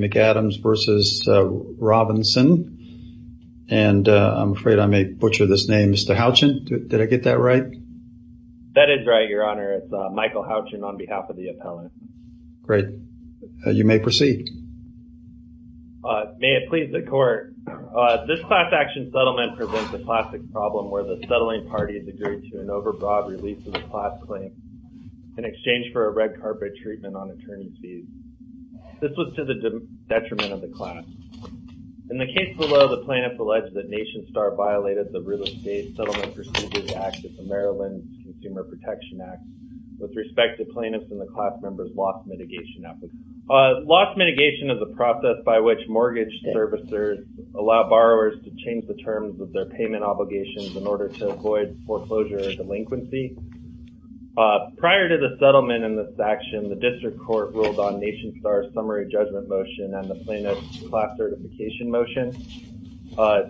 McAdams v. Robinson and I'm afraid I may butcher this name. Mr. Houchen, did I get that right? That is right, Your Honor. It's Michael Houchen on behalf of the appellant. Great. You may proceed. May it please the Court. This class action settlement presents a classic problem where the settling party has agreed to an overbroad release of the settlement. This was to the detriment of the class. In the case below, the plaintiff alleged that Nationstar violated the Rule of State Settlement Procedures Act of the Maryland Consumer Protection Act with respect to plaintiffs and the class members' loss mitigation efforts. Loss mitigation is a process by which mortgage servicers allow borrowers to change the terms of their payment obligations in order to avoid foreclosure or delinquency. Prior to the settlement in this action, the District Court ruled on Nationstar's summary judgment motion and the plaintiff's class certification motion.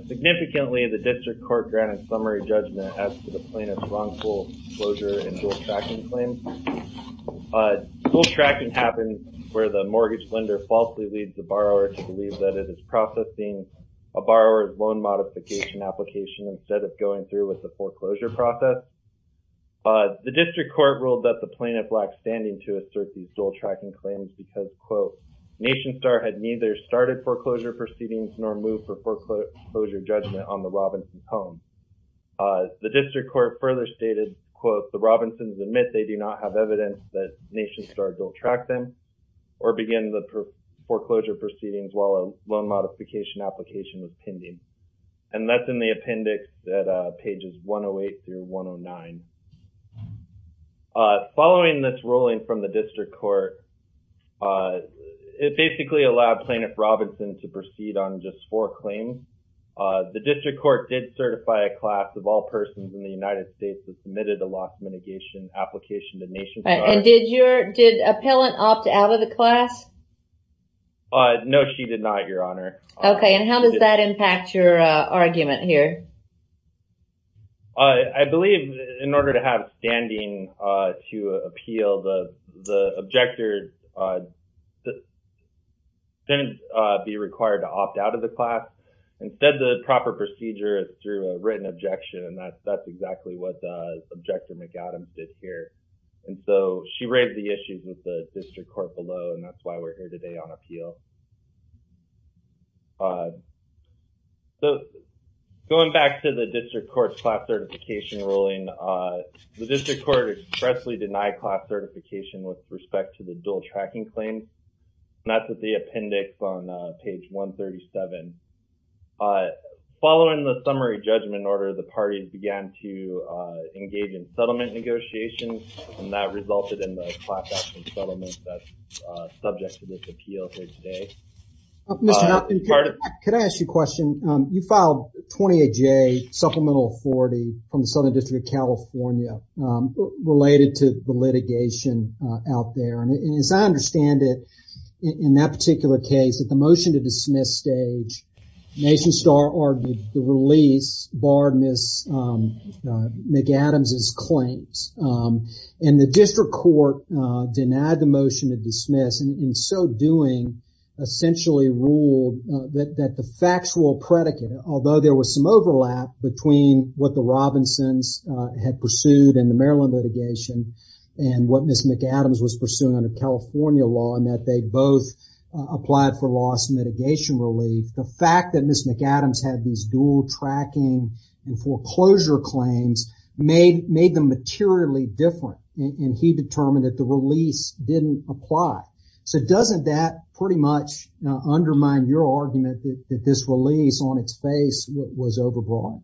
Significantly, the District Court granted summary judgment as to the plaintiff's wrongful foreclosure and dual tracking claims. Dual tracking happens where the mortgage lender falsely leads the borrower to believe that it is processing a borrower's loan modification application instead of going through with the foreclosure process. The District Court ruled that the plaintiff lacked standing to assert these dual tracking claims because, quote, Nationstar had neither started foreclosure proceedings nor moved for foreclosure judgment on the Robinsons home. The District Court further stated, quote, the Robinsons admit they do not have evidence that Nationstar dual tracked them or began the foreclosure proceedings while a loan modification application was pending. And that's in the appendix at pages 108 through 109. Following this ruling from the District Court, it basically allowed Plaintiff Robinson to proceed on just four claims. The District Court did certify a class of all persons in the United States who submitted a loss mitigation application to Nationstar. And did your, did Appellant opt out of the class? No, she did not, Your Honor. Okay, and how does that impact your argument here? I believe in order to have standing to appeal, the objector shouldn't be required to opt out of the class. Instead, the proper procedure is through a written objection, and that's exactly what the Objector McAdams did here. And so, she raised the issues with the District Court below, and that's why we're here today on appeal. So, going back to the District Court's class certification ruling, the District Court expressly denied class certification with respect to the dual tracking claims. And that's at the appendix on page 137. Following the summary judgment order, the parties began to engage in settlement negotiations, and that resulted in the class action settlement that's today. Could I ask you a question? You filed 28J Supplemental 40 from the Southern District of California related to the litigation out there. And as I understand it, in that particular case, at the motion to dismiss stage, Nationstar argued the release barred Ms. McAdams' claims. And the District Court denied the motion to dismiss, and in so doing, essentially ruled that the factual predicate, although there was some overlap between what the Robinsons had pursued in the Maryland litigation and what Ms. McAdams was pursuing under California law in that they both applied for loss and mitigation relief, the fact that Ms. McAdams had these dual tracking and foreclosure claims made them materially different, and he determined that the So doesn't that pretty much undermine your argument that this release on its face was overbroad?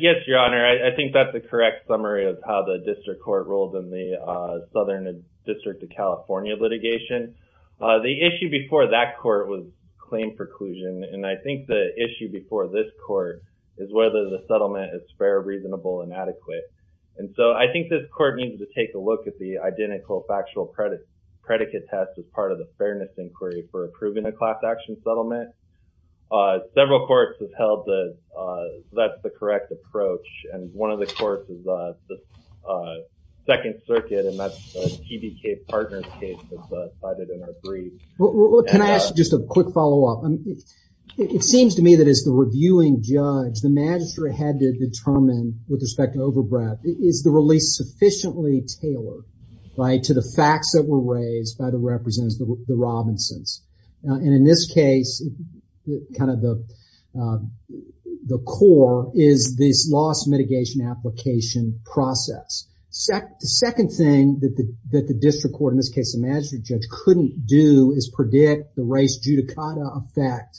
Yes, Your Honor. I think that's the correct summary of how the District Court ruled in the Southern District of California litigation. The issue before that court was claim preclusion, and I think the issue before this court is whether the settlement is fair, reasonable, and adequate. And so I think this court needed to take a look at the identical factual predicate test as part of the fairness inquiry for approving a class action settlement. Several courts have held that that's the correct approach, and one of the courts is the Second Circuit, and that's a TBK partner case that's cited in our brief. Can I ask just a quick follow-up? It seems to me that as the reviewing judge, the magistrate had to determine, with respect to overbreadth, is the release sufficiently tailored to the facts that were raised by the representatives, the Robinsons? And in this case, kind of the core is this loss mitigation application process. The second thing that the District Court, in this case the magistrate judge, couldn't do is predict the race judicata effect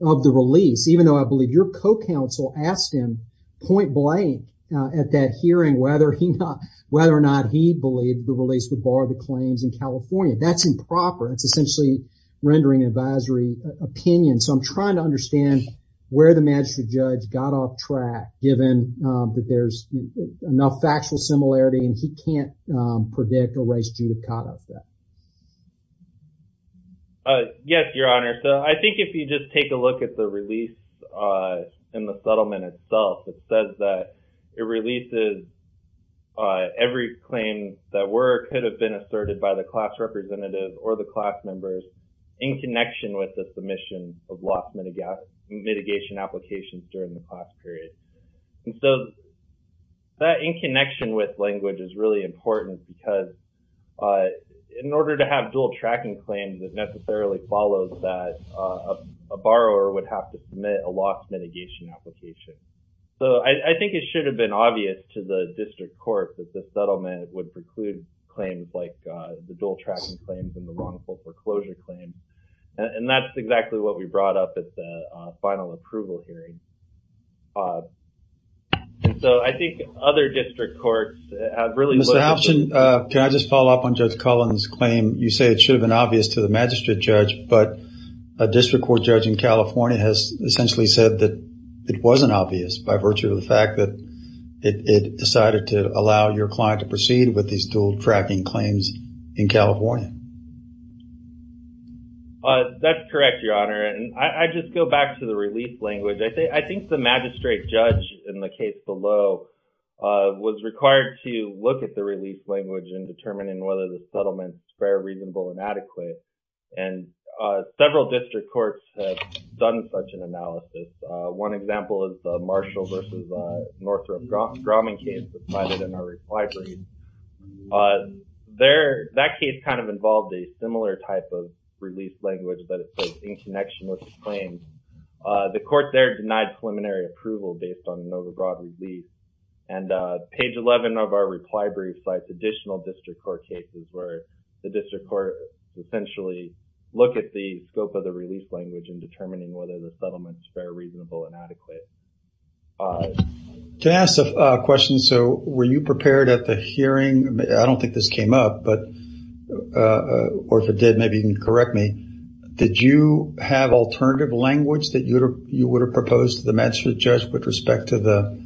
of the release, even though I believe your co-counsel asked him point whether or not he believed the release would bar the claims in California. That's improper. It's essentially rendering an advisory opinion. So I'm trying to understand where the magistrate judge got off track, given that there's enough factual similarity and he can't predict a race judicata effect. Yes, Your Honor. So I think if you just take a look at the release in the settlement itself, it says that it releases every claim that could have been asserted by the class representative or the class members in connection with the submission of loss mitigation applications during the class period. And so that in connection with language is really important because in order to have dual tracking claims, it necessarily follows that a borrower would have to submit a loss mitigation application. So I think it should have been obvious to the district court that the settlement would preclude claims like the dual tracking claims and the wrongful foreclosure claims. And that's exactly what we brought up at the final approval hearing. So I think other district courts have really Mr. Hopson, can I just follow up on Judge Collins' claim? You say it should have been obvious to the magistrate judge, but a district court judge in California has essentially said that it wasn't obvious by virtue of the fact that it decided to allow your client to proceed with these dual tracking claims in California. That's correct, Your Honor. And I just go back to the release language. I think the magistrate judge in the case below was required to look at the release language in determining whether the settlement is fair, reasonable, and adequate. And several district courts have done such an analysis. One example is the Marshall v. Northrop Grumman case provided in our reply brief. That case kind of involved a similar type of release language, but it's in connection with the claims. The court there denied preliminary approval based on an overbroad release. And page 11 of our reply brief cites additional district court cases where the district court essentially looked at the scope of the release language in determining whether the settlement is fair, reasonable, and adequate. Can I ask a question? So were you prepared at the hearing? I don't think this came up, or if it did, maybe you can correct me. Did you have alternative language that you would have proposed to the magistrate judge with respect to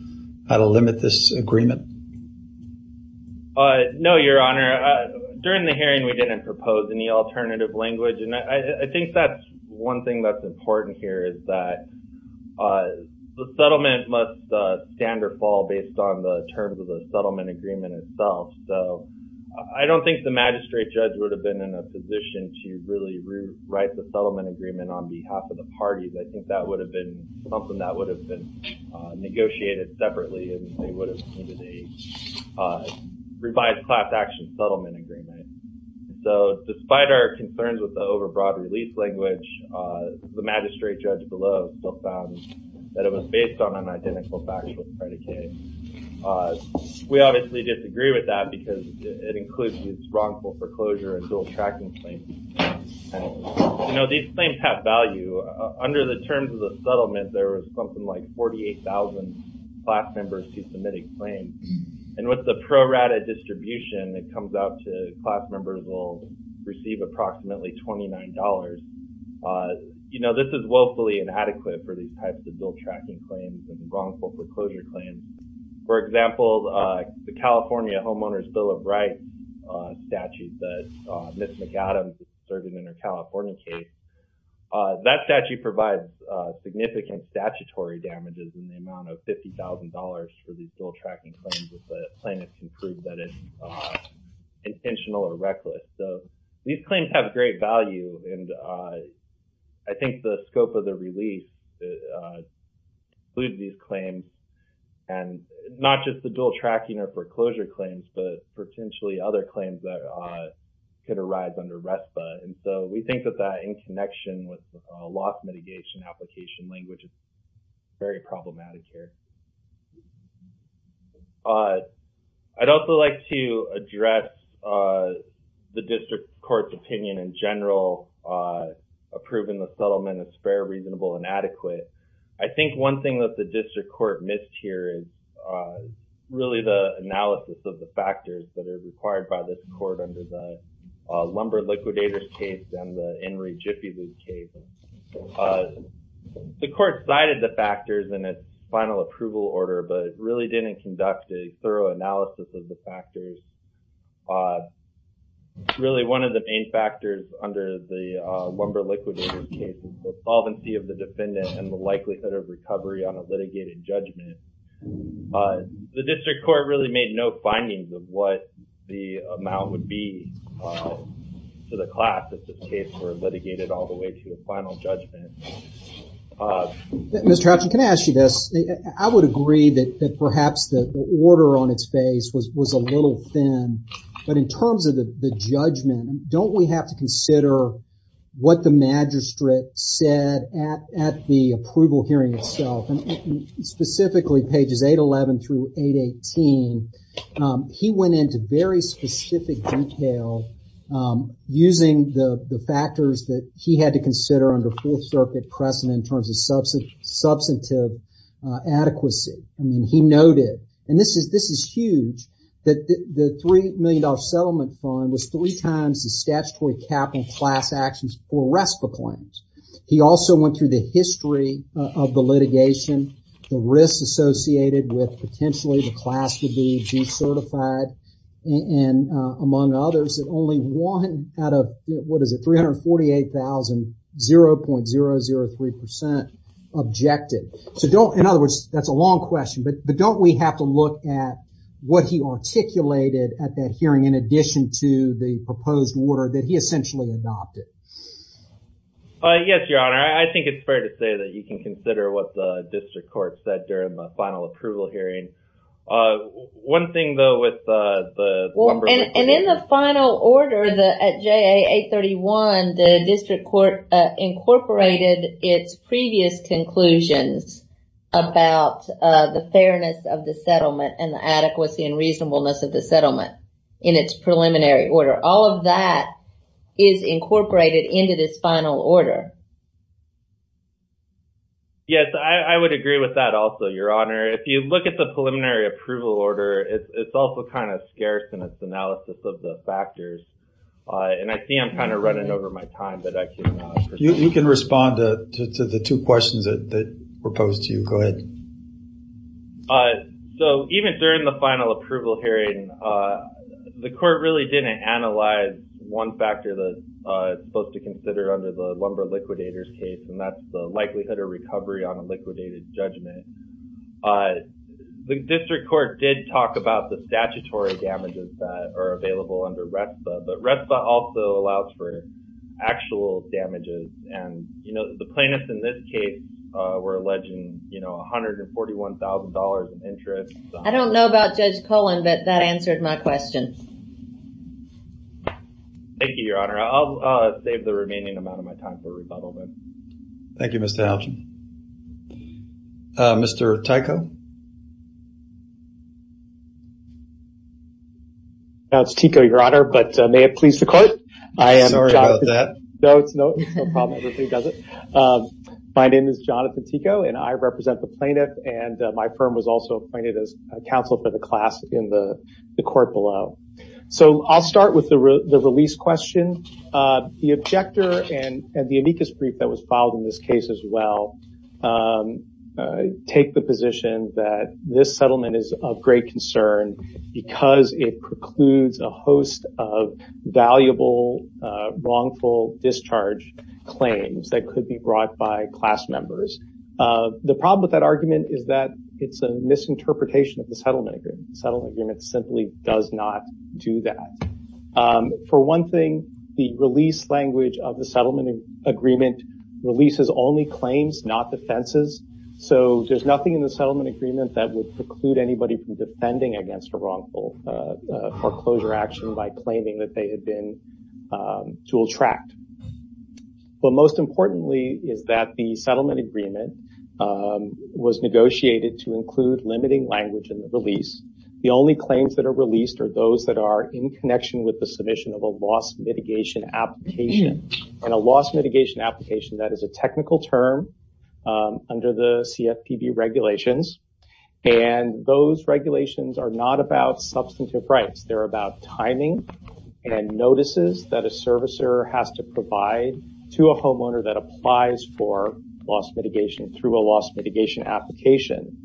how to limit this agreement? No, Your Honor. During the hearing, we didn't propose any alternative language, and I think that's one thing that's important here is that the settlement must stand or fall based on the terms of the settlement agreement itself. So I don't think the magistrate judge would have been in a position to really write the settlement agreement on behalf of the parties. I think that would have been something that would have been negotiated separately, and they would have needed a revised class action settlement agreement. So despite our concerns with the overbroad release language, the magistrate judge below still found that it was based on an identical factual predicate. We obviously disagree with that because it includes these wrongful foreclosure and dual tracking claims. You know, these claims have value. Under the terms of the settlement, there was something like 48,000 class members who submitted claims. And with the pro rata distribution, it comes out to class members will receive approximately $29. You know, this is woefully inadequate for these types of dual tracking claims and wrongful foreclosure claims. For example, the California Homeowner's Bill of Rights statute that Ms. McAdams is serving in her California case, that statute provides significant statutory damages in the amount of $50,000 for these dual tracking claims if the plaintiff can prove that it's intentional or reckless. So these claims have great value, and I think the scope of the release includes these claims and not just the dual tracking or foreclosure claims, but potentially other claims that could arise under RESPA. And so we think that that in connection with the loss mitigation application language is very problematic here. I'd also like to address the district court's opinion in general approving the settlement as fair, reasonable, and adequate. I think one thing that the district court missed here is really the analysis of the factors that are required by this court under the Lumber Liquidators case and the In re Gippi case. The court cited the factors in its final approval order, but really didn't conduct a thorough analysis of the factors. Really one of the main factors under the Lumber Liquidators case is the solvency of the defendant and the likelihood of recovery on a litigated judgment. The district court really made no findings of what the amount would be to the class of this case were litigated all the way to the final judgment. Mr. Hutchin, can I ask you this? I would agree that perhaps the order on its face was a little thin, but in terms of the judgment, don't we have to consider what the magistrate said at the approval hearing itself, and specifically pages 811 through 818. He went into very specific detail using the factors that he had to consider under Fourth Circuit precedent in terms of substantive adequacy. He noted, and this is huge, that the $3 million settlement fund was three times the statutory capital class actions for RESPA claims. He also went through the history of the litigation, the risks associated with potentially the class would be decertified, among others, that only one out of, what is it, 348,000, 0.003% objected. In other words, that's a long question, but don't we have to look at what he articulated at that hearing in addition to the proposed order that he essentially adopted? Yes, Your Honor. I think it's fair to say that you can consider what the district court said during the final approval hearing. One thing, though, with the... In the final order, at JA 831, the district court incorporated its previous conclusions about the fairness of the settlement and the adequacy and reasonableness of the settlement in its preliminary order. All of that is incorporated into this final order. Yes, I would agree with that also, Your Honor. If you look at the preliminary approval order, it's also kind of scarce in its analysis of the factors. I see I'm kind of running over my time, but I can... You can respond to the two questions that were posed to you. Go ahead. Even during the final approval hearing, the court really didn't analyze one factor that it's supposed to consider under the lumber liquidators case, and that's the likelihood of recovery on a liquidated judgment. The district court did talk about the statutory damages that are available under RESPA, but RESPA also allows for actual damages, and the plaintiffs in this case were alleging $141,000 in interest. I don't know about Judge Cullen, but that answered my question. Thank you, Your Honor. I'll save the remaining amount of my time for this afternoon. Mr. Tyko? It's Tyko, Your Honor, but may it please the court? Sorry about that. No, it's no problem. Everybody does it. My name is Jonathan Tyko, and I represent the plaintiff, and my firm was also appointed as counsel for the class in the court below. I'll start with the release question. The objector and the amicus brief that was filed in this case as well take the position that this settlement is of great concern because it precludes a host of valuable, wrongful discharge claims that could be brought by class members. The problem with that argument is that it's a misinterpretation of the settlement agreement. The settlement agreement simply does not do that. For one thing, the release language of the settlement agreement releases only claims, not defenses, so there's nothing in the settlement agreement that would preclude anybody from defending against a wrongful foreclosure action by claiming that they had been dual-tracked. Most importantly is that the settlement agreement was negotiated to include limiting language in the release. The only claims that are released are those that are in a loss mitigation application, and a loss mitigation application, that is a technical term under the CFPB regulations, and those regulations are not about substantive rights. They're about timing and notices that a servicer has to provide to a homeowner that applies for loss mitigation through a loss mitigation application.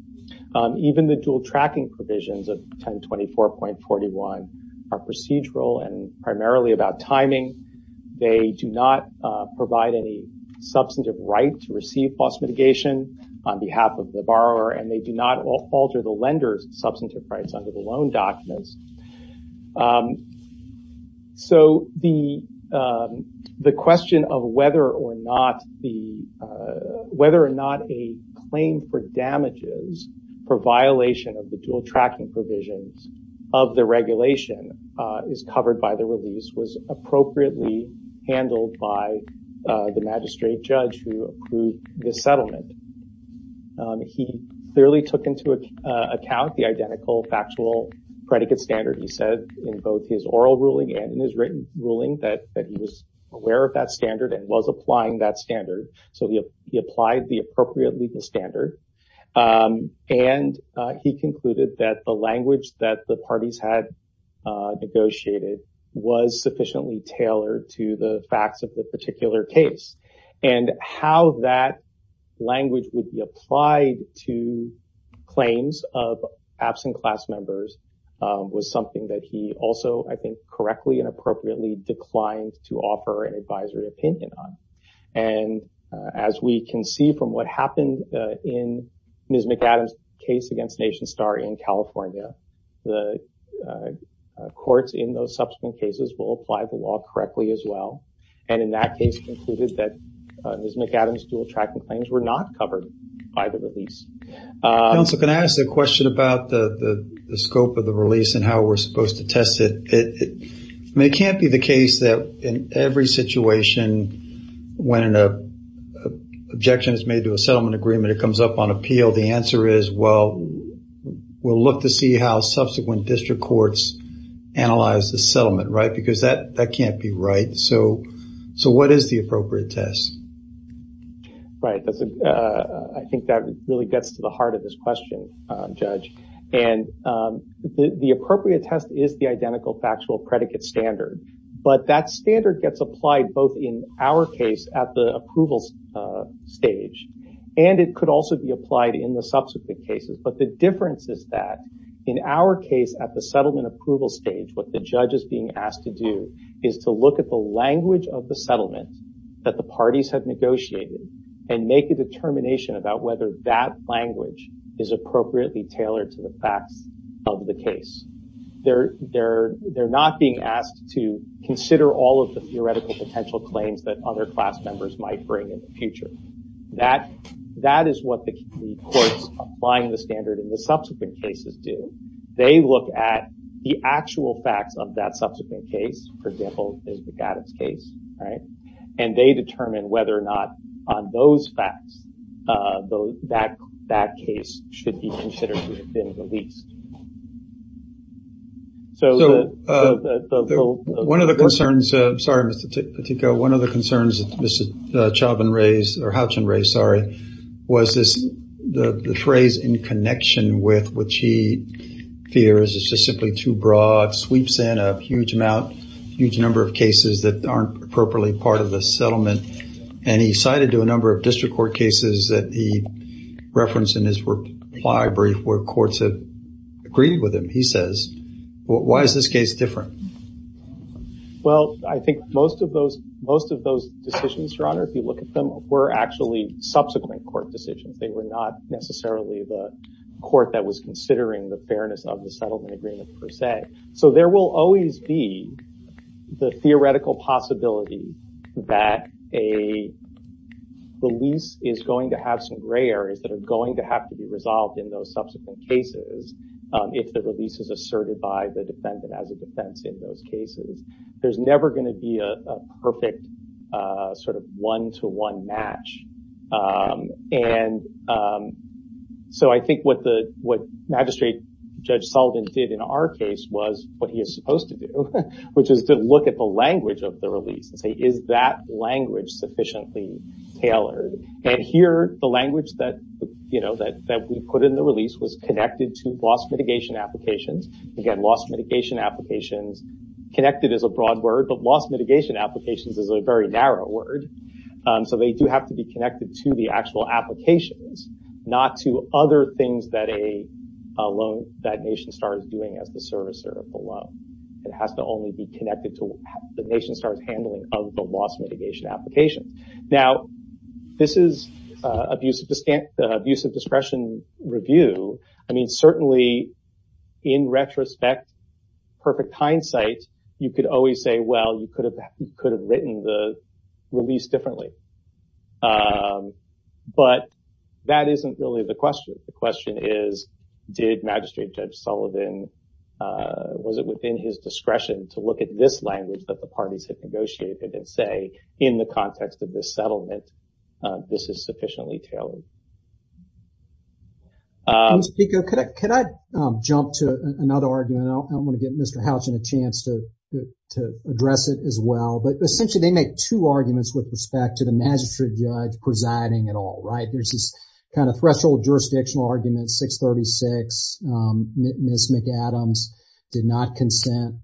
Even the dual-tracking provisions of 1024.41 are procedural and primarily about timing. They do not provide any substantive right to receive loss mitigation on behalf of the borrower, and they do not alter the lender's substantive rights under the loan documents. The question of whether or not a claim for damages for violation of the dual-tracking provisions of the regulation is covered by the release was appropriately handled by the magistrate judge who approved the settlement. He clearly took into account the identical factual predicate standard he said in both his oral ruling and in his written ruling that he was aware of that standard and was applying that standard, so he applied appropriately the standard, and he concluded that the language that the parties had negotiated was sufficiently tailored to the facts of the particular case, and how that language would be applied to claims of absent class members was something that he also, I think, correctly and appropriately declined to offer an advisory opinion on, and as we can see from what happened in Ms. McAdams' case against NationStar in California, the courts in those subsequent cases will apply the law correctly as well, and in that case concluded that Ms. McAdams' dual-tracking claims were not covered by the release. Counsel, can I ask a question about the scope of the release and how we're supposed to test it? I mean, it can't be the case that in every situation when an objection is made to a settlement agreement, it comes up on appeal, the answer is, well, we'll look to see how subsequent district courts analyze the settlement, right? Because that can't be right, so what is the appropriate test? I think that really gets to the heart of this question, Judge, and the appropriate test is the identical factual predicate standard, but that standard gets applied both in our case at the approval stage, and it could also be applied in the subsequent cases, but the difference is that in our case at the settlement approval stage, what the judge is being asked to do is to look at the language of the settlement that the parties have negotiated and make a determination about whether that language is appropriately tailored to the facts of the case. They're not being asked to consider all of the theoretical potential claims that other class members might bring in the future. That is what the courts applying the standard in the subsequent cases do. They look at the actual facts of that subsequent case, for example, the McAdams case, and they determine whether or not on those facts that case should be considered to have been released. One of the concerns that Mr. Chauchin raised was the phrase in connection with which he fears is just simply too broad, sweeps in a huge amount, huge number of cases that aren't appropriately part of the settlement, and he cited to a number of district court cases that he referenced in his court ply brief where courts have agreed with him. He says why is this case different? I think most of those decisions, Your Honor, if you look at them, were actually subsequent court decisions. They were not necessarily the court that was considering the fairness of the settlement agreement per se. There will always be the theoretical possibility that a release is going to have some gray areas that are going to have to be resolved in those subsequent cases if the release is asserted by the defendant as a defense in those cases. There's never going to be a perfect one-to-one match. I think what Magistrate Judge Sullivan did in our case was what he is supposed to do, which is to look at the language of the release and say is that language sufficiently tailored? Here, the language that we put in the release was connected to loss mitigation applications. Again, loss mitigation applications, connected is a broad word, but loss mitigation applications is a very narrow word. They do have to be connected to the actual applications, not to other things that a nation star is doing as the servicer of the loan. It has to only be connected to the nation star's handling of the settlement. Now, this is abuse of discretion review. Certainly, in retrospect, perfect hindsight, you could always say, well, you could have written the release differently. That isn't really the question. The question is, did Magistrate Judge Sullivan, was it within his discretion to look at this language that the parties had negotiated and say, in the context of this settlement, this is sufficiently tailored? Can I jump to another argument? I want to give Mr. Houchin a chance to address it as well. Essentially, they make two arguments with respect to the Magistrate Judge presiding at all. There is this threshold jurisdictional argument, 636, Ms. McAdams did not consent.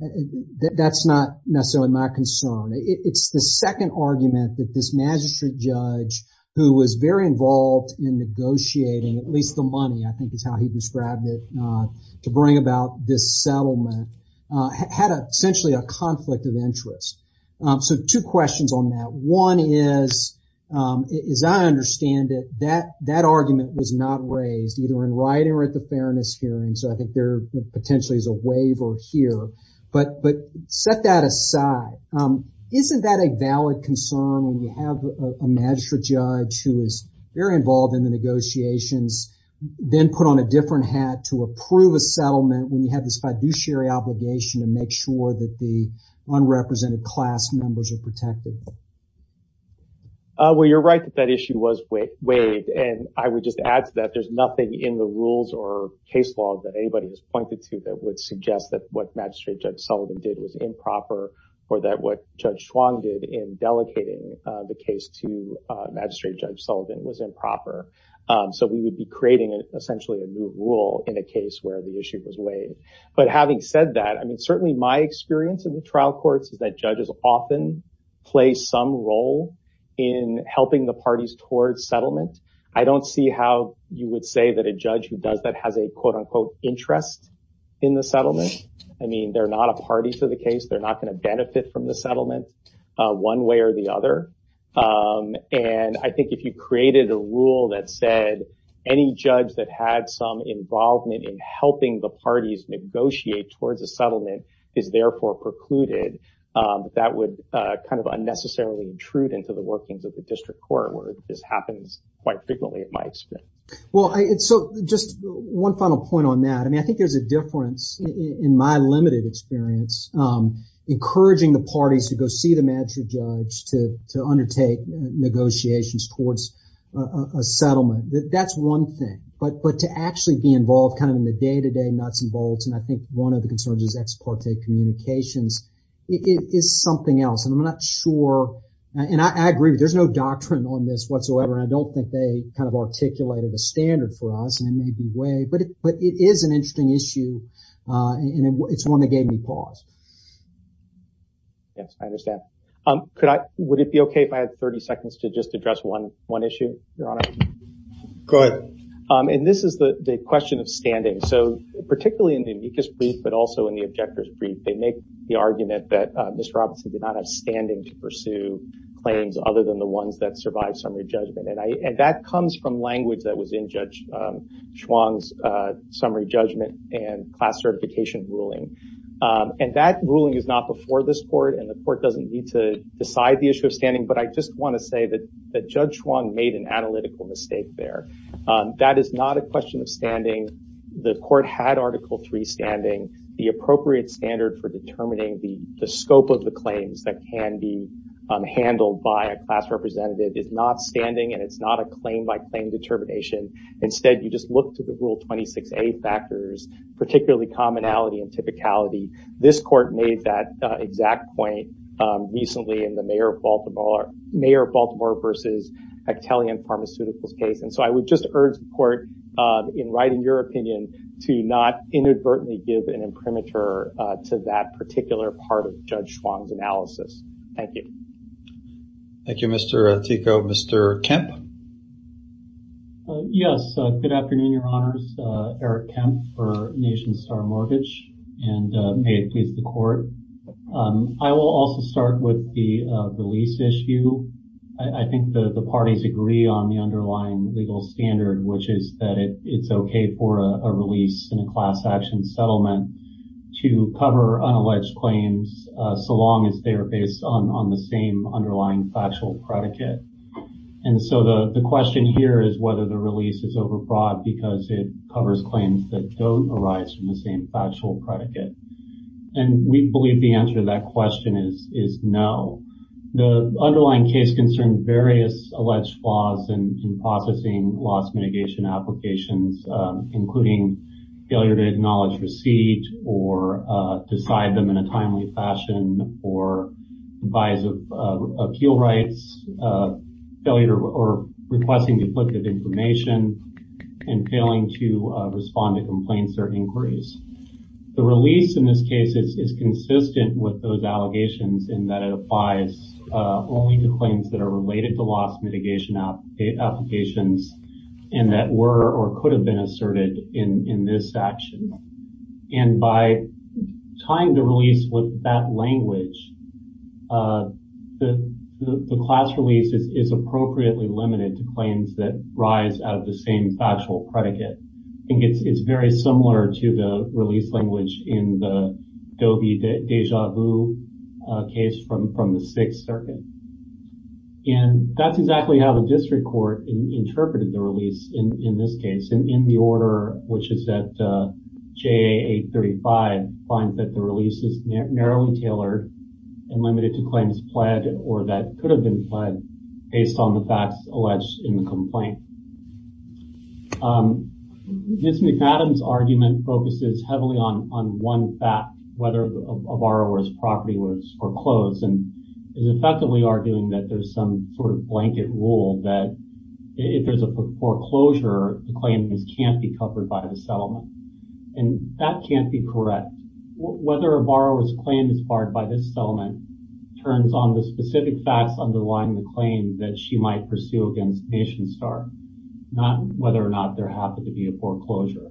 That's not necessarily my concern. It's the second argument that this Magistrate Judge, who was very involved in negotiating, at least the money, I think is how he described it, to bring about this settlement, had essentially a conflict of interest. Two questions on that. One is, as I understand it, that argument was not raised, either in writing or at the Fairness Hearing. I think there potentially is a waiver here. Set that aside. Isn't that a valid concern when you have a Magistrate Judge who is very involved in the negotiations then put on a different hat to approve a settlement when you have this fiduciary obligation to make sure that the unrepresented class members are protected? You're right that that issue was weighed. I would just add to that, there's nothing in the rules or case law that anybody has pointed to that would suggest that what Magistrate Judge Sullivan did was improper or that what Judge Schwong did in delegating the case to Magistrate Judge Sullivan was improper. We would be creating essentially a new rule in a case where the issue was weighed. Having said that, certainly my experience in the trial courts is that judges often play some role in helping the parties towards settlement. I don't see how you would say that a judge who does that has a interest in the settlement. They're not a party to the case. They're not going to benefit from the settlement one way or the other. I think if you created a rule that said any judge that had some involvement in helping the parties negotiate towards a settlement is therefore precluded, that would unnecessarily intrude into the workings of the case quite frequently in my experience. Just one final point on that. I think there's a difference in my limited experience encouraging the parties to go see the Magistrate Judge to undertake negotiations towards a settlement. That's one thing. But to actually be involved in the day-to-day nuts and bolts, and I think one of the concerns is ex parte communications, is something else. I'm not sure and I agree, there's no doctrine on this whatsoever and I don't think they articulated a standard for us in any way, but it is an interesting issue and it's one that gave me pause. Yes, I understand. Would it be okay if I had 30 seconds to just address one issue, Your Honor? Go ahead. This is the question of standing. Particularly in the amicus brief but also in the objector's brief, they make the argument that Mr. Robinson did not have standing to pursue claims other than the ones that survived summary judgment. That comes from language that was in Judge Chuang's summary judgment and class certification ruling. That ruling is not before this court and the court doesn't need to decide the issue of standing, but I just want to say that Judge Chuang made an analytical mistake there. That is not a question of standing. The court had Article III standing, the appropriate standard for determining the scope of the claims that can be handled by a class representative is not standing and it's not a claim by claim determination. Instead, you just look to the Rule 26A factors, particularly commonality and typicality. This court made that exact point recently in the Mayor of Baltimore versus Hechtelian Pharmaceuticals case. I would just urge the court, in writing your opinion, to not inadvertently give an imprimatur to that particular part of Judge Chuang's analysis. Thank you. Thank you, Mr. Artico. Mr. Kemp? Yes, good afternoon, Your Honors. Eric Kemp for Nation Star Mortgage and may it please the court. I will also start with the release issue. I think the parties agree on the underlying legal standard, which is that it's okay for a release in a class action settlement to cover unalleged claims so long as they are based on the same underlying factual predicate. The question here is whether the release is overbroad because it covers claims that don't arise from the same factual predicate. We believe the answer to that question is no. The underlying case concerns various alleged flaws in processing loss mitigation applications, including failure to acknowledge receipt or decide them in a timely fashion or bias of appeal rights, failure or requesting depletive information, and failing to respond to complaints or inquiries. The release in this case is consistent with those allegations in that it applies only to claims that are related to loss mitigation applications and that were or could have been asserted in this action. And by tying the release with that language, the class release is appropriately limited to claims that arise out of the same factual predicate. I think it's very similar to the release language in the Deja Vu case from the Sixth Circuit. And that's exactly how the district court interpreted the release in this case, in the order which is that JA 835 finds that the release is narrowly tailored and limited to claims pled or that could have been pled based on the facts alleged in the complaint. Ms. McAdam's argument focuses heavily on one fact, whether a borrower's property was foreclosed and is effectively arguing that there's some sort of blanket rule that if there's a foreclosure, the claim can't be covered by the settlement. And that can't be correct. Whether a borrower's claim is barred by this settlement turns on the specific facts underlying the claim that she might pursue against NationStar, not whether or not there happened to be a foreclosure.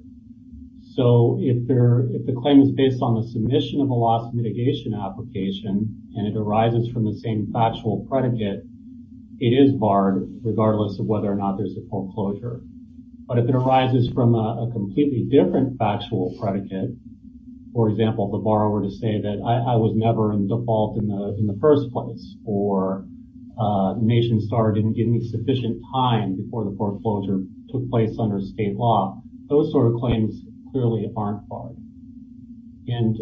So if the claim is based on the submission of a loss mitigation application and it arises from the same factual predicate, it is barred regardless of whether or not there's a foreclosure. But if it arises from a completely different factual predicate, for example, the borrower to say that I was never in default in the first place or NationStar didn't give me sufficient time before the foreclosure took place under state law, those sort of claims clearly aren't barred. And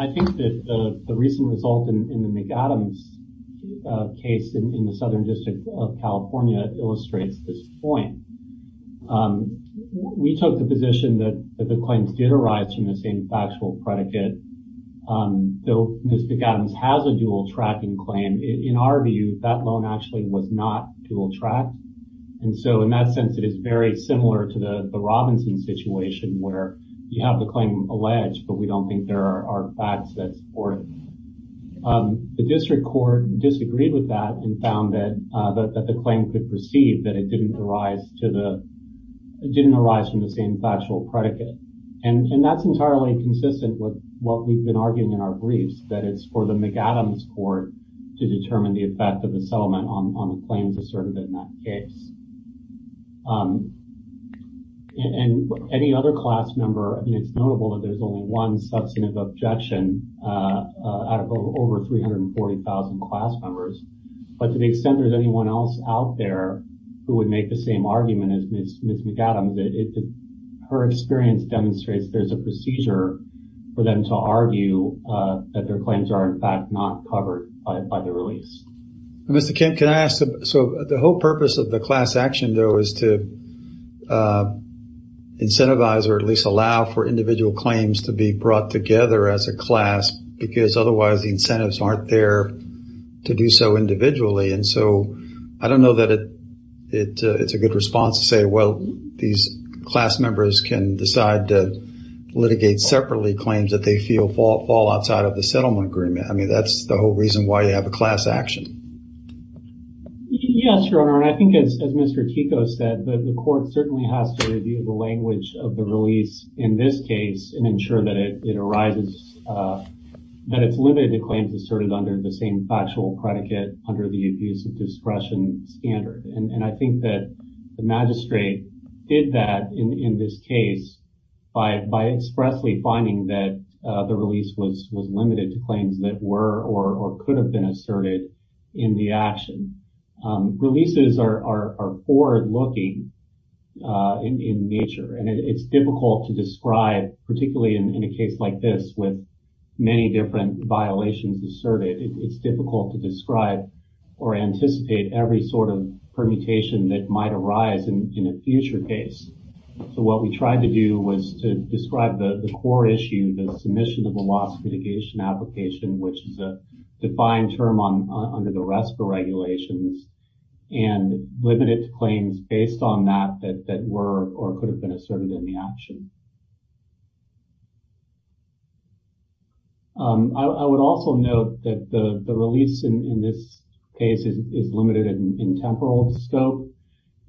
I think that the recent result in the McAdams case in the Southern District of California illustrates this point. We took the position that the claims did arise from the same factual predicate. Though Ms. McAdams has a dual tracking claim, in our view, that loan actually was not dual tracked. And so in that sense, it is very similar to the Robinson situation where you have the claim alleged, but we don't think there are facts that support it. The district court disagreed with that and found that the claim could proceed, that it didn't arise from the same factual predicate. And that's entirely consistent with what we've been arguing in our briefs, that it's for the McAdams court to determine the effect of the settlement on the claims asserted in that case. And any other class member, it's notable that there's only one substantive objection out of over 340,000 class members. But to the extent there's anyone else out there who would make the same argument as Ms. McAdams, her experience demonstrates there's a procedure for them to argue that their claims are in fact not covered by the release. Mr. Kent, can I ask, so the whole purpose of the class action though is to incentivize or at least allow for individual claims to be brought together as a class because otherwise the incentives aren't there to do so individually. And so I don't know that it's a good response to say, well, these class members can decide to litigate separately claims that they feel fall outside of the settlement agreement. I mean, that's the whole reason why you have a class action. Yes, Your Honor, and I think as Mr. Tico said, the court certainly has to review the language of the release in this case and ensure that it arises, that it's limited to claims asserted under the same factual predicate under the abuse of discretion standard. And I think that the magistrate did that in this case by expressly finding that the claims were or could have been asserted in the action. Releases are forward-looking in nature, and it's difficult to describe, particularly in a case like this with many different violations asserted. It's difficult to describe or anticipate every sort of permutation that might arise in a future case. So what we tried to do was to describe the core issue, the submission of a loss mitigation application, which is a defined term under the RESPA regulations, and limit it to claims based on that that were or could have been asserted in the action. I would also note that the release in this case is limited in temporal scope.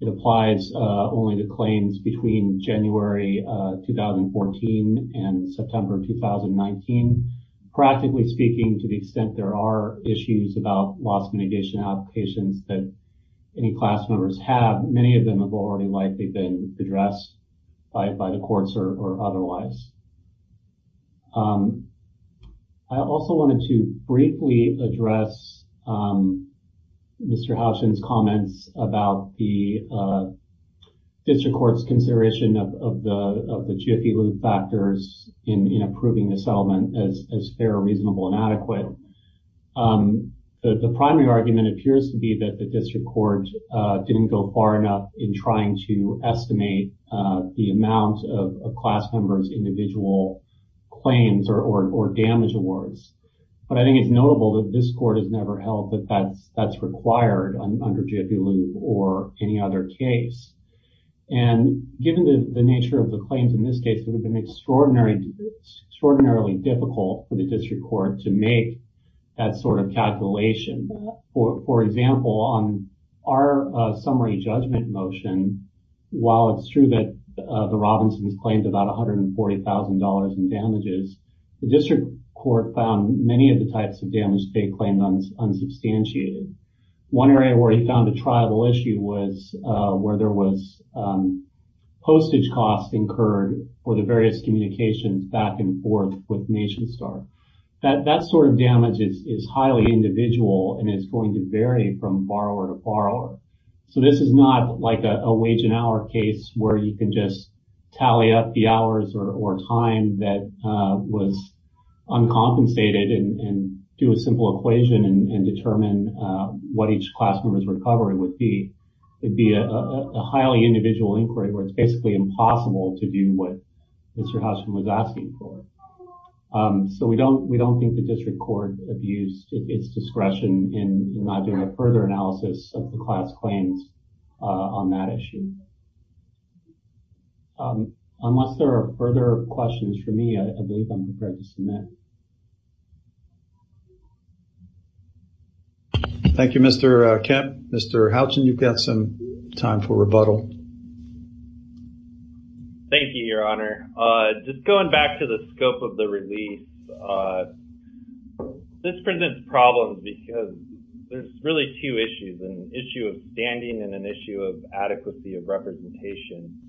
It applies only to claims between January 2014 and September 2019. Practically speaking, to the extent there are issues about loss mitigation applications that any class members have, many of them have already likely been addressed by the courts or otherwise. I also wanted to briefly address Mr. Hauschen's comments about the district court's consideration of the GFE loop factors in approving the settlement as fair, reasonable, and adequate. The primary argument appears to be that the district court didn't go far enough in trying to estimate the amount of class members' individual claims or damage awards. But I think it's notable that this court has never held that that's required under GFE loop or any other case. Given the nature of the claims in this case, it would have been extraordinarily difficult for the district court to make that sort of calculation. For example, on our summary judgment motion, while it's true that the Robinsons claimed about $140,000 in damages, the district court found many of the types of damage they claimed unsubstantiated. One area where he found a lot of damage was postage costs incurred for the various communications back and forth with NationStar. That sort of damage is highly individual and is going to vary from borrower to borrower. So this is not like a wage and hour case where you can just tally up the hours or time that was uncompensated and do a simple equation and determine what each class member's recovery would be. It would be a highly individual inquiry where it's basically impossible to do what Mr. Houchen was asking for. So we don't think the district court abused its discretion in not doing a further analysis of the class claims on that issue. Unless there are further questions for me, I believe I'm prepared to submit. Thank you. Thank you, Mr. Kemp. Mr. Houchen, you've got some time for rebuttal. Thank you, Your Honor. Just going back to the scope of the release, this presents problems because there's really two issues, an issue of standing and an issue of adequacy of representation.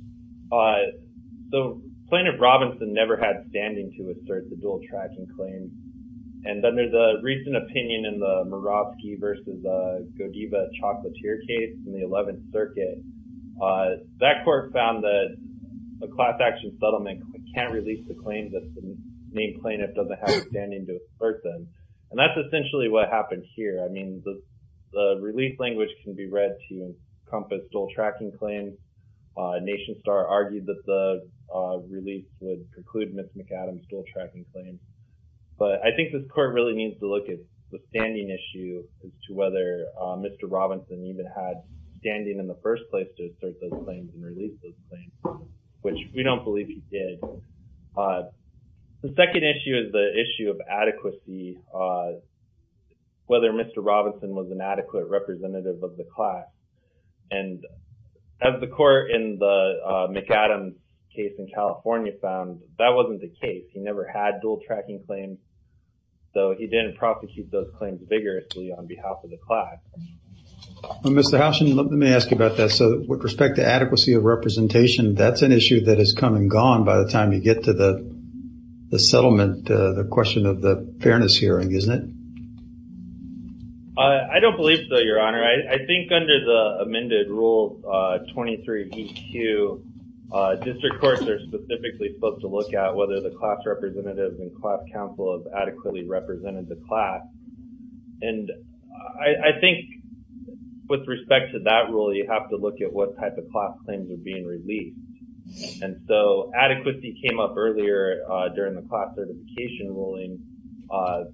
The plaintiff Robinson never had standing to assert the dual tracking claims. And then there's a recent opinion in the Murawski versus Godiva Chocolatier case in the 11th Circuit. That court found that a class action settlement can't release the claim that the named plaintiff doesn't have standing to assert them. And that's essentially what happened here. I mean, the release language can be read to encompass dual tracking claims. Nation Star argued that the release would conclude Ms. McAdams' dual tracking claims. But I think this court really needs to look at the standing issue as to whether Mr. Robinson even had standing in the first place to assert those claims and release those claims, which we don't believe he did. The second issue is the issue of adequacy, whether Mr. Robinson was an adequate representative of the class. And as the court in the McAdams case in California found, that wasn't the case. He never had dual tracking claims. So he didn't prosecute those claims vigorously on behalf of the class. Well, Mr. Hauschen, let me ask you about that. So with respect to adequacy of representation, that's an issue that has come and gone by the time you get to the settlement, the question of the fairness hearing, isn't it? I don't believe so, Your Honor. I think under the amended Rule 23BQ, district courts are specifically supposed to look at whether the class representative and class counsel have adequately represented the class. And I think with respect to that rule, you have to look at what type of class claims are being released. And so adequacy came up earlier during the class certification ruling.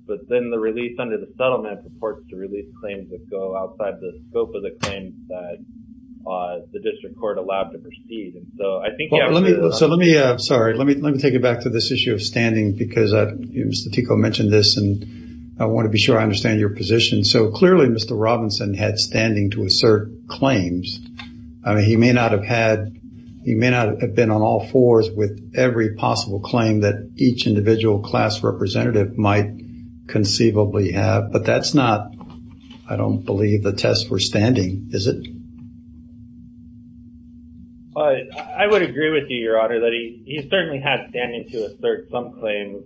But then the release under the settlement supports the release of claims that go outside the scope of the claims that the district court allowed to proceed. Let me take you back to this issue of standing because Mr. Tico mentioned this and I want to be sure I understand your position. So clearly Mr. Robinson had standing to assert claims. He may not have had he may not have been on all fours with every possible claim that each individual class representative might conceivably have. But that's not, I don't believe, the test for standing. Is it? I would agree with you, Your Honor, that he certainly had standing to assert some claims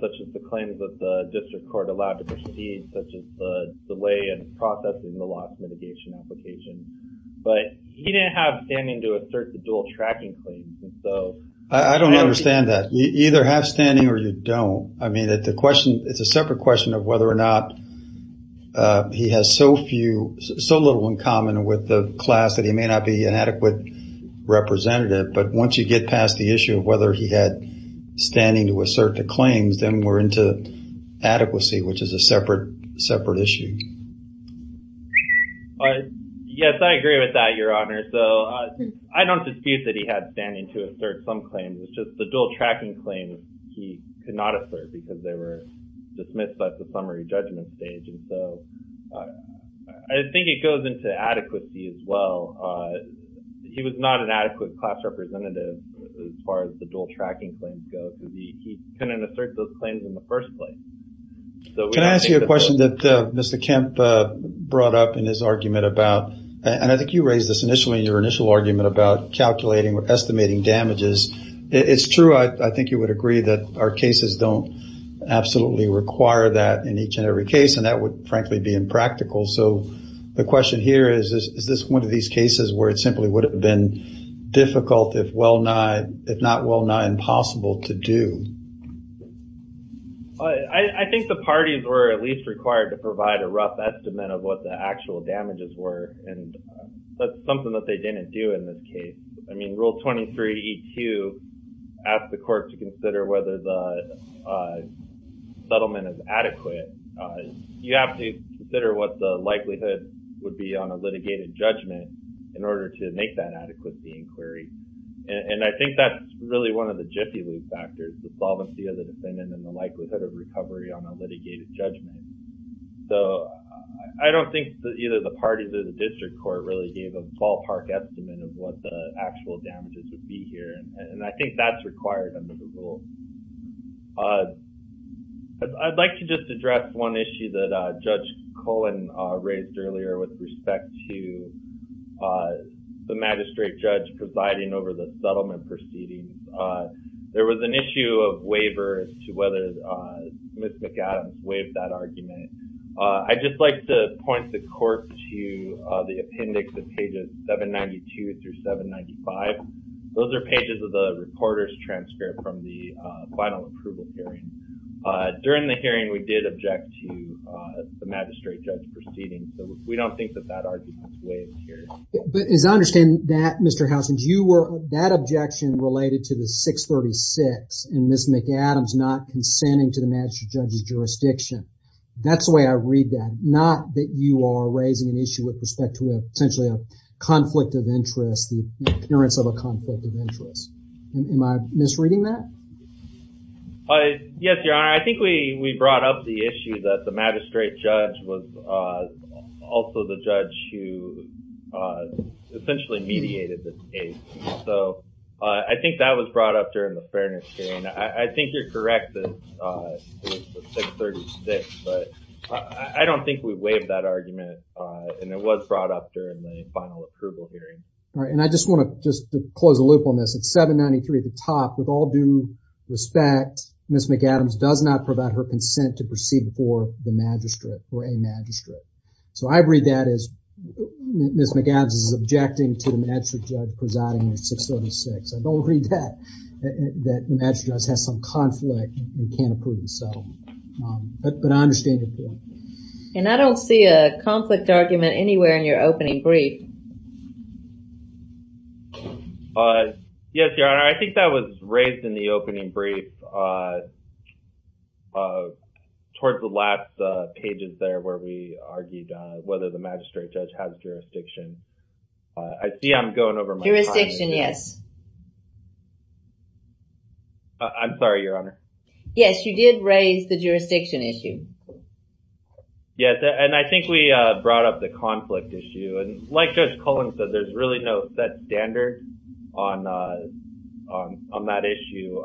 such as the claims that the district court allowed to proceed such as the delay in processing the loss mitigation application. But he didn't have standing to assert the dual tracking claims. I don't understand that. You either have standing or you don't. I mean, it's a separate question of whether or not he has so little in common with the class that he may not be an adequate representative. But once you get past the issue of whether he had standing to assert the claims, then we're into adequacy, which is a separate issue. Yes, I agree with that, Your Honor. I don't dispute that he had standing to assert some claims. It's just the dual tracking claims he could not assert because they were dismissed at the summary judgment stage. And so I think it goes into adequacy as well. He was not an adequate class representative as far as the dual tracking claims go. He couldn't assert those claims in the first place. Can I ask you a question that Mr. Kemp brought up in his argument about, and I think you raised this initially in your initial argument about calculating or estimating damages. It's true, I think you would agree, that our cases don't absolutely require that in each and every case, and that would frankly be impractical. So the question here is, is this one of these cases where it simply would have been difficult, if not well-nigh impossible to do? I think the parties were at least required to provide a rough estimate of what the actual damages were, and that's something that they didn't do in this case. I mean, Rule 23E2 asks the court to consider whether the settlement is adequate. You have to consider what the likelihood would be on a litigated judgment in order to make that adequacy inquiry. And I think that's really one of the jiffy loop factors, the solvency of the defendant and the likelihood of recovery on a litigated judgment. So I don't think that either the parties or the district court really gave a ballpark estimate of what the actual damages would be here, and I think that's required under the rule. I'd like to just address one issue that Judge Cullen raised earlier with respect to the magistrate judge presiding over the settlement proceedings. There was an issue of waiver as to whether Ms. McAdams waived that argument. I'd just like to point the court to the appendix of pages 792 through 795. Those are pages of the reporter's transcript from the final approval hearing. During the hearing, we did object to the magistrate judge proceeding, so we don't think that that argument is waived here. But as I understand that, Mr. Housens, that objection related to the 636 and Ms. McAdams not consenting to the magistrate judge's jurisdiction. That's the way I read that. Not that you are raising an issue with respect to potentially a conflict of interest, the appearance of a conflict of interest. Am I misreading that? Yes, Your Honor. I think we brought up the issue that the magistrate judge was also the judge who essentially mediated the case. So I think that was brought up during the fairness hearing. I think you're correct that it was 636, but I don't think we waived that argument, and it was brought up during the final approval hearing. Alright, and I just want to close the loop on this. It's 793 at the top. With all due respect, Ms. McAdams does not provide her consent to proceed before the magistrate or a magistrate. So I read that as Ms. McAdams is objecting to the magistrate judge presiding in 636. I don't read that, that the magistrate judge has some conflict and can't approve. But I understand your point. And I don't see a conflict argument anywhere in your opening brief. Yes, Your Honor. I think that was raised in the opening brief towards the last pages there where we argued whether the magistrate judge has jurisdiction. I see I'm going over my time. Jurisdiction, yes. I'm sorry, Your Honor. Yes, you did raise the jurisdiction issue. Yes, and I think we brought up the conflict issue. And like Judge Cullen said, there's really no set standard on that issue.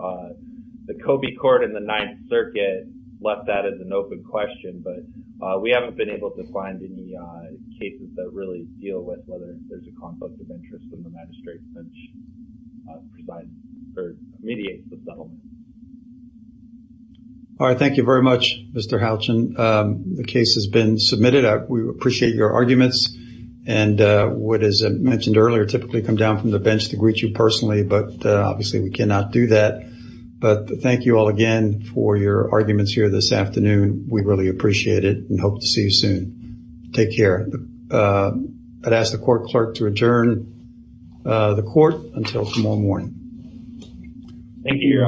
The Coby Court and the Ninth Circuit left that as an open question, but we haven't been able to find any cases that really deal with whether there's a conflict of interest. All right. Thank you very much, Mr. Houchin. The case has been submitted. We appreciate your arguments and what is mentioned earlier typically come down from the bench to greet you personally, but obviously we cannot do that. But thank you all again for your arguments here this afternoon. We really appreciate it and hope to see you soon. Take care. I'd ask the court clerk to adjourn the court until tomorrow morning. Thank you, Your Honor.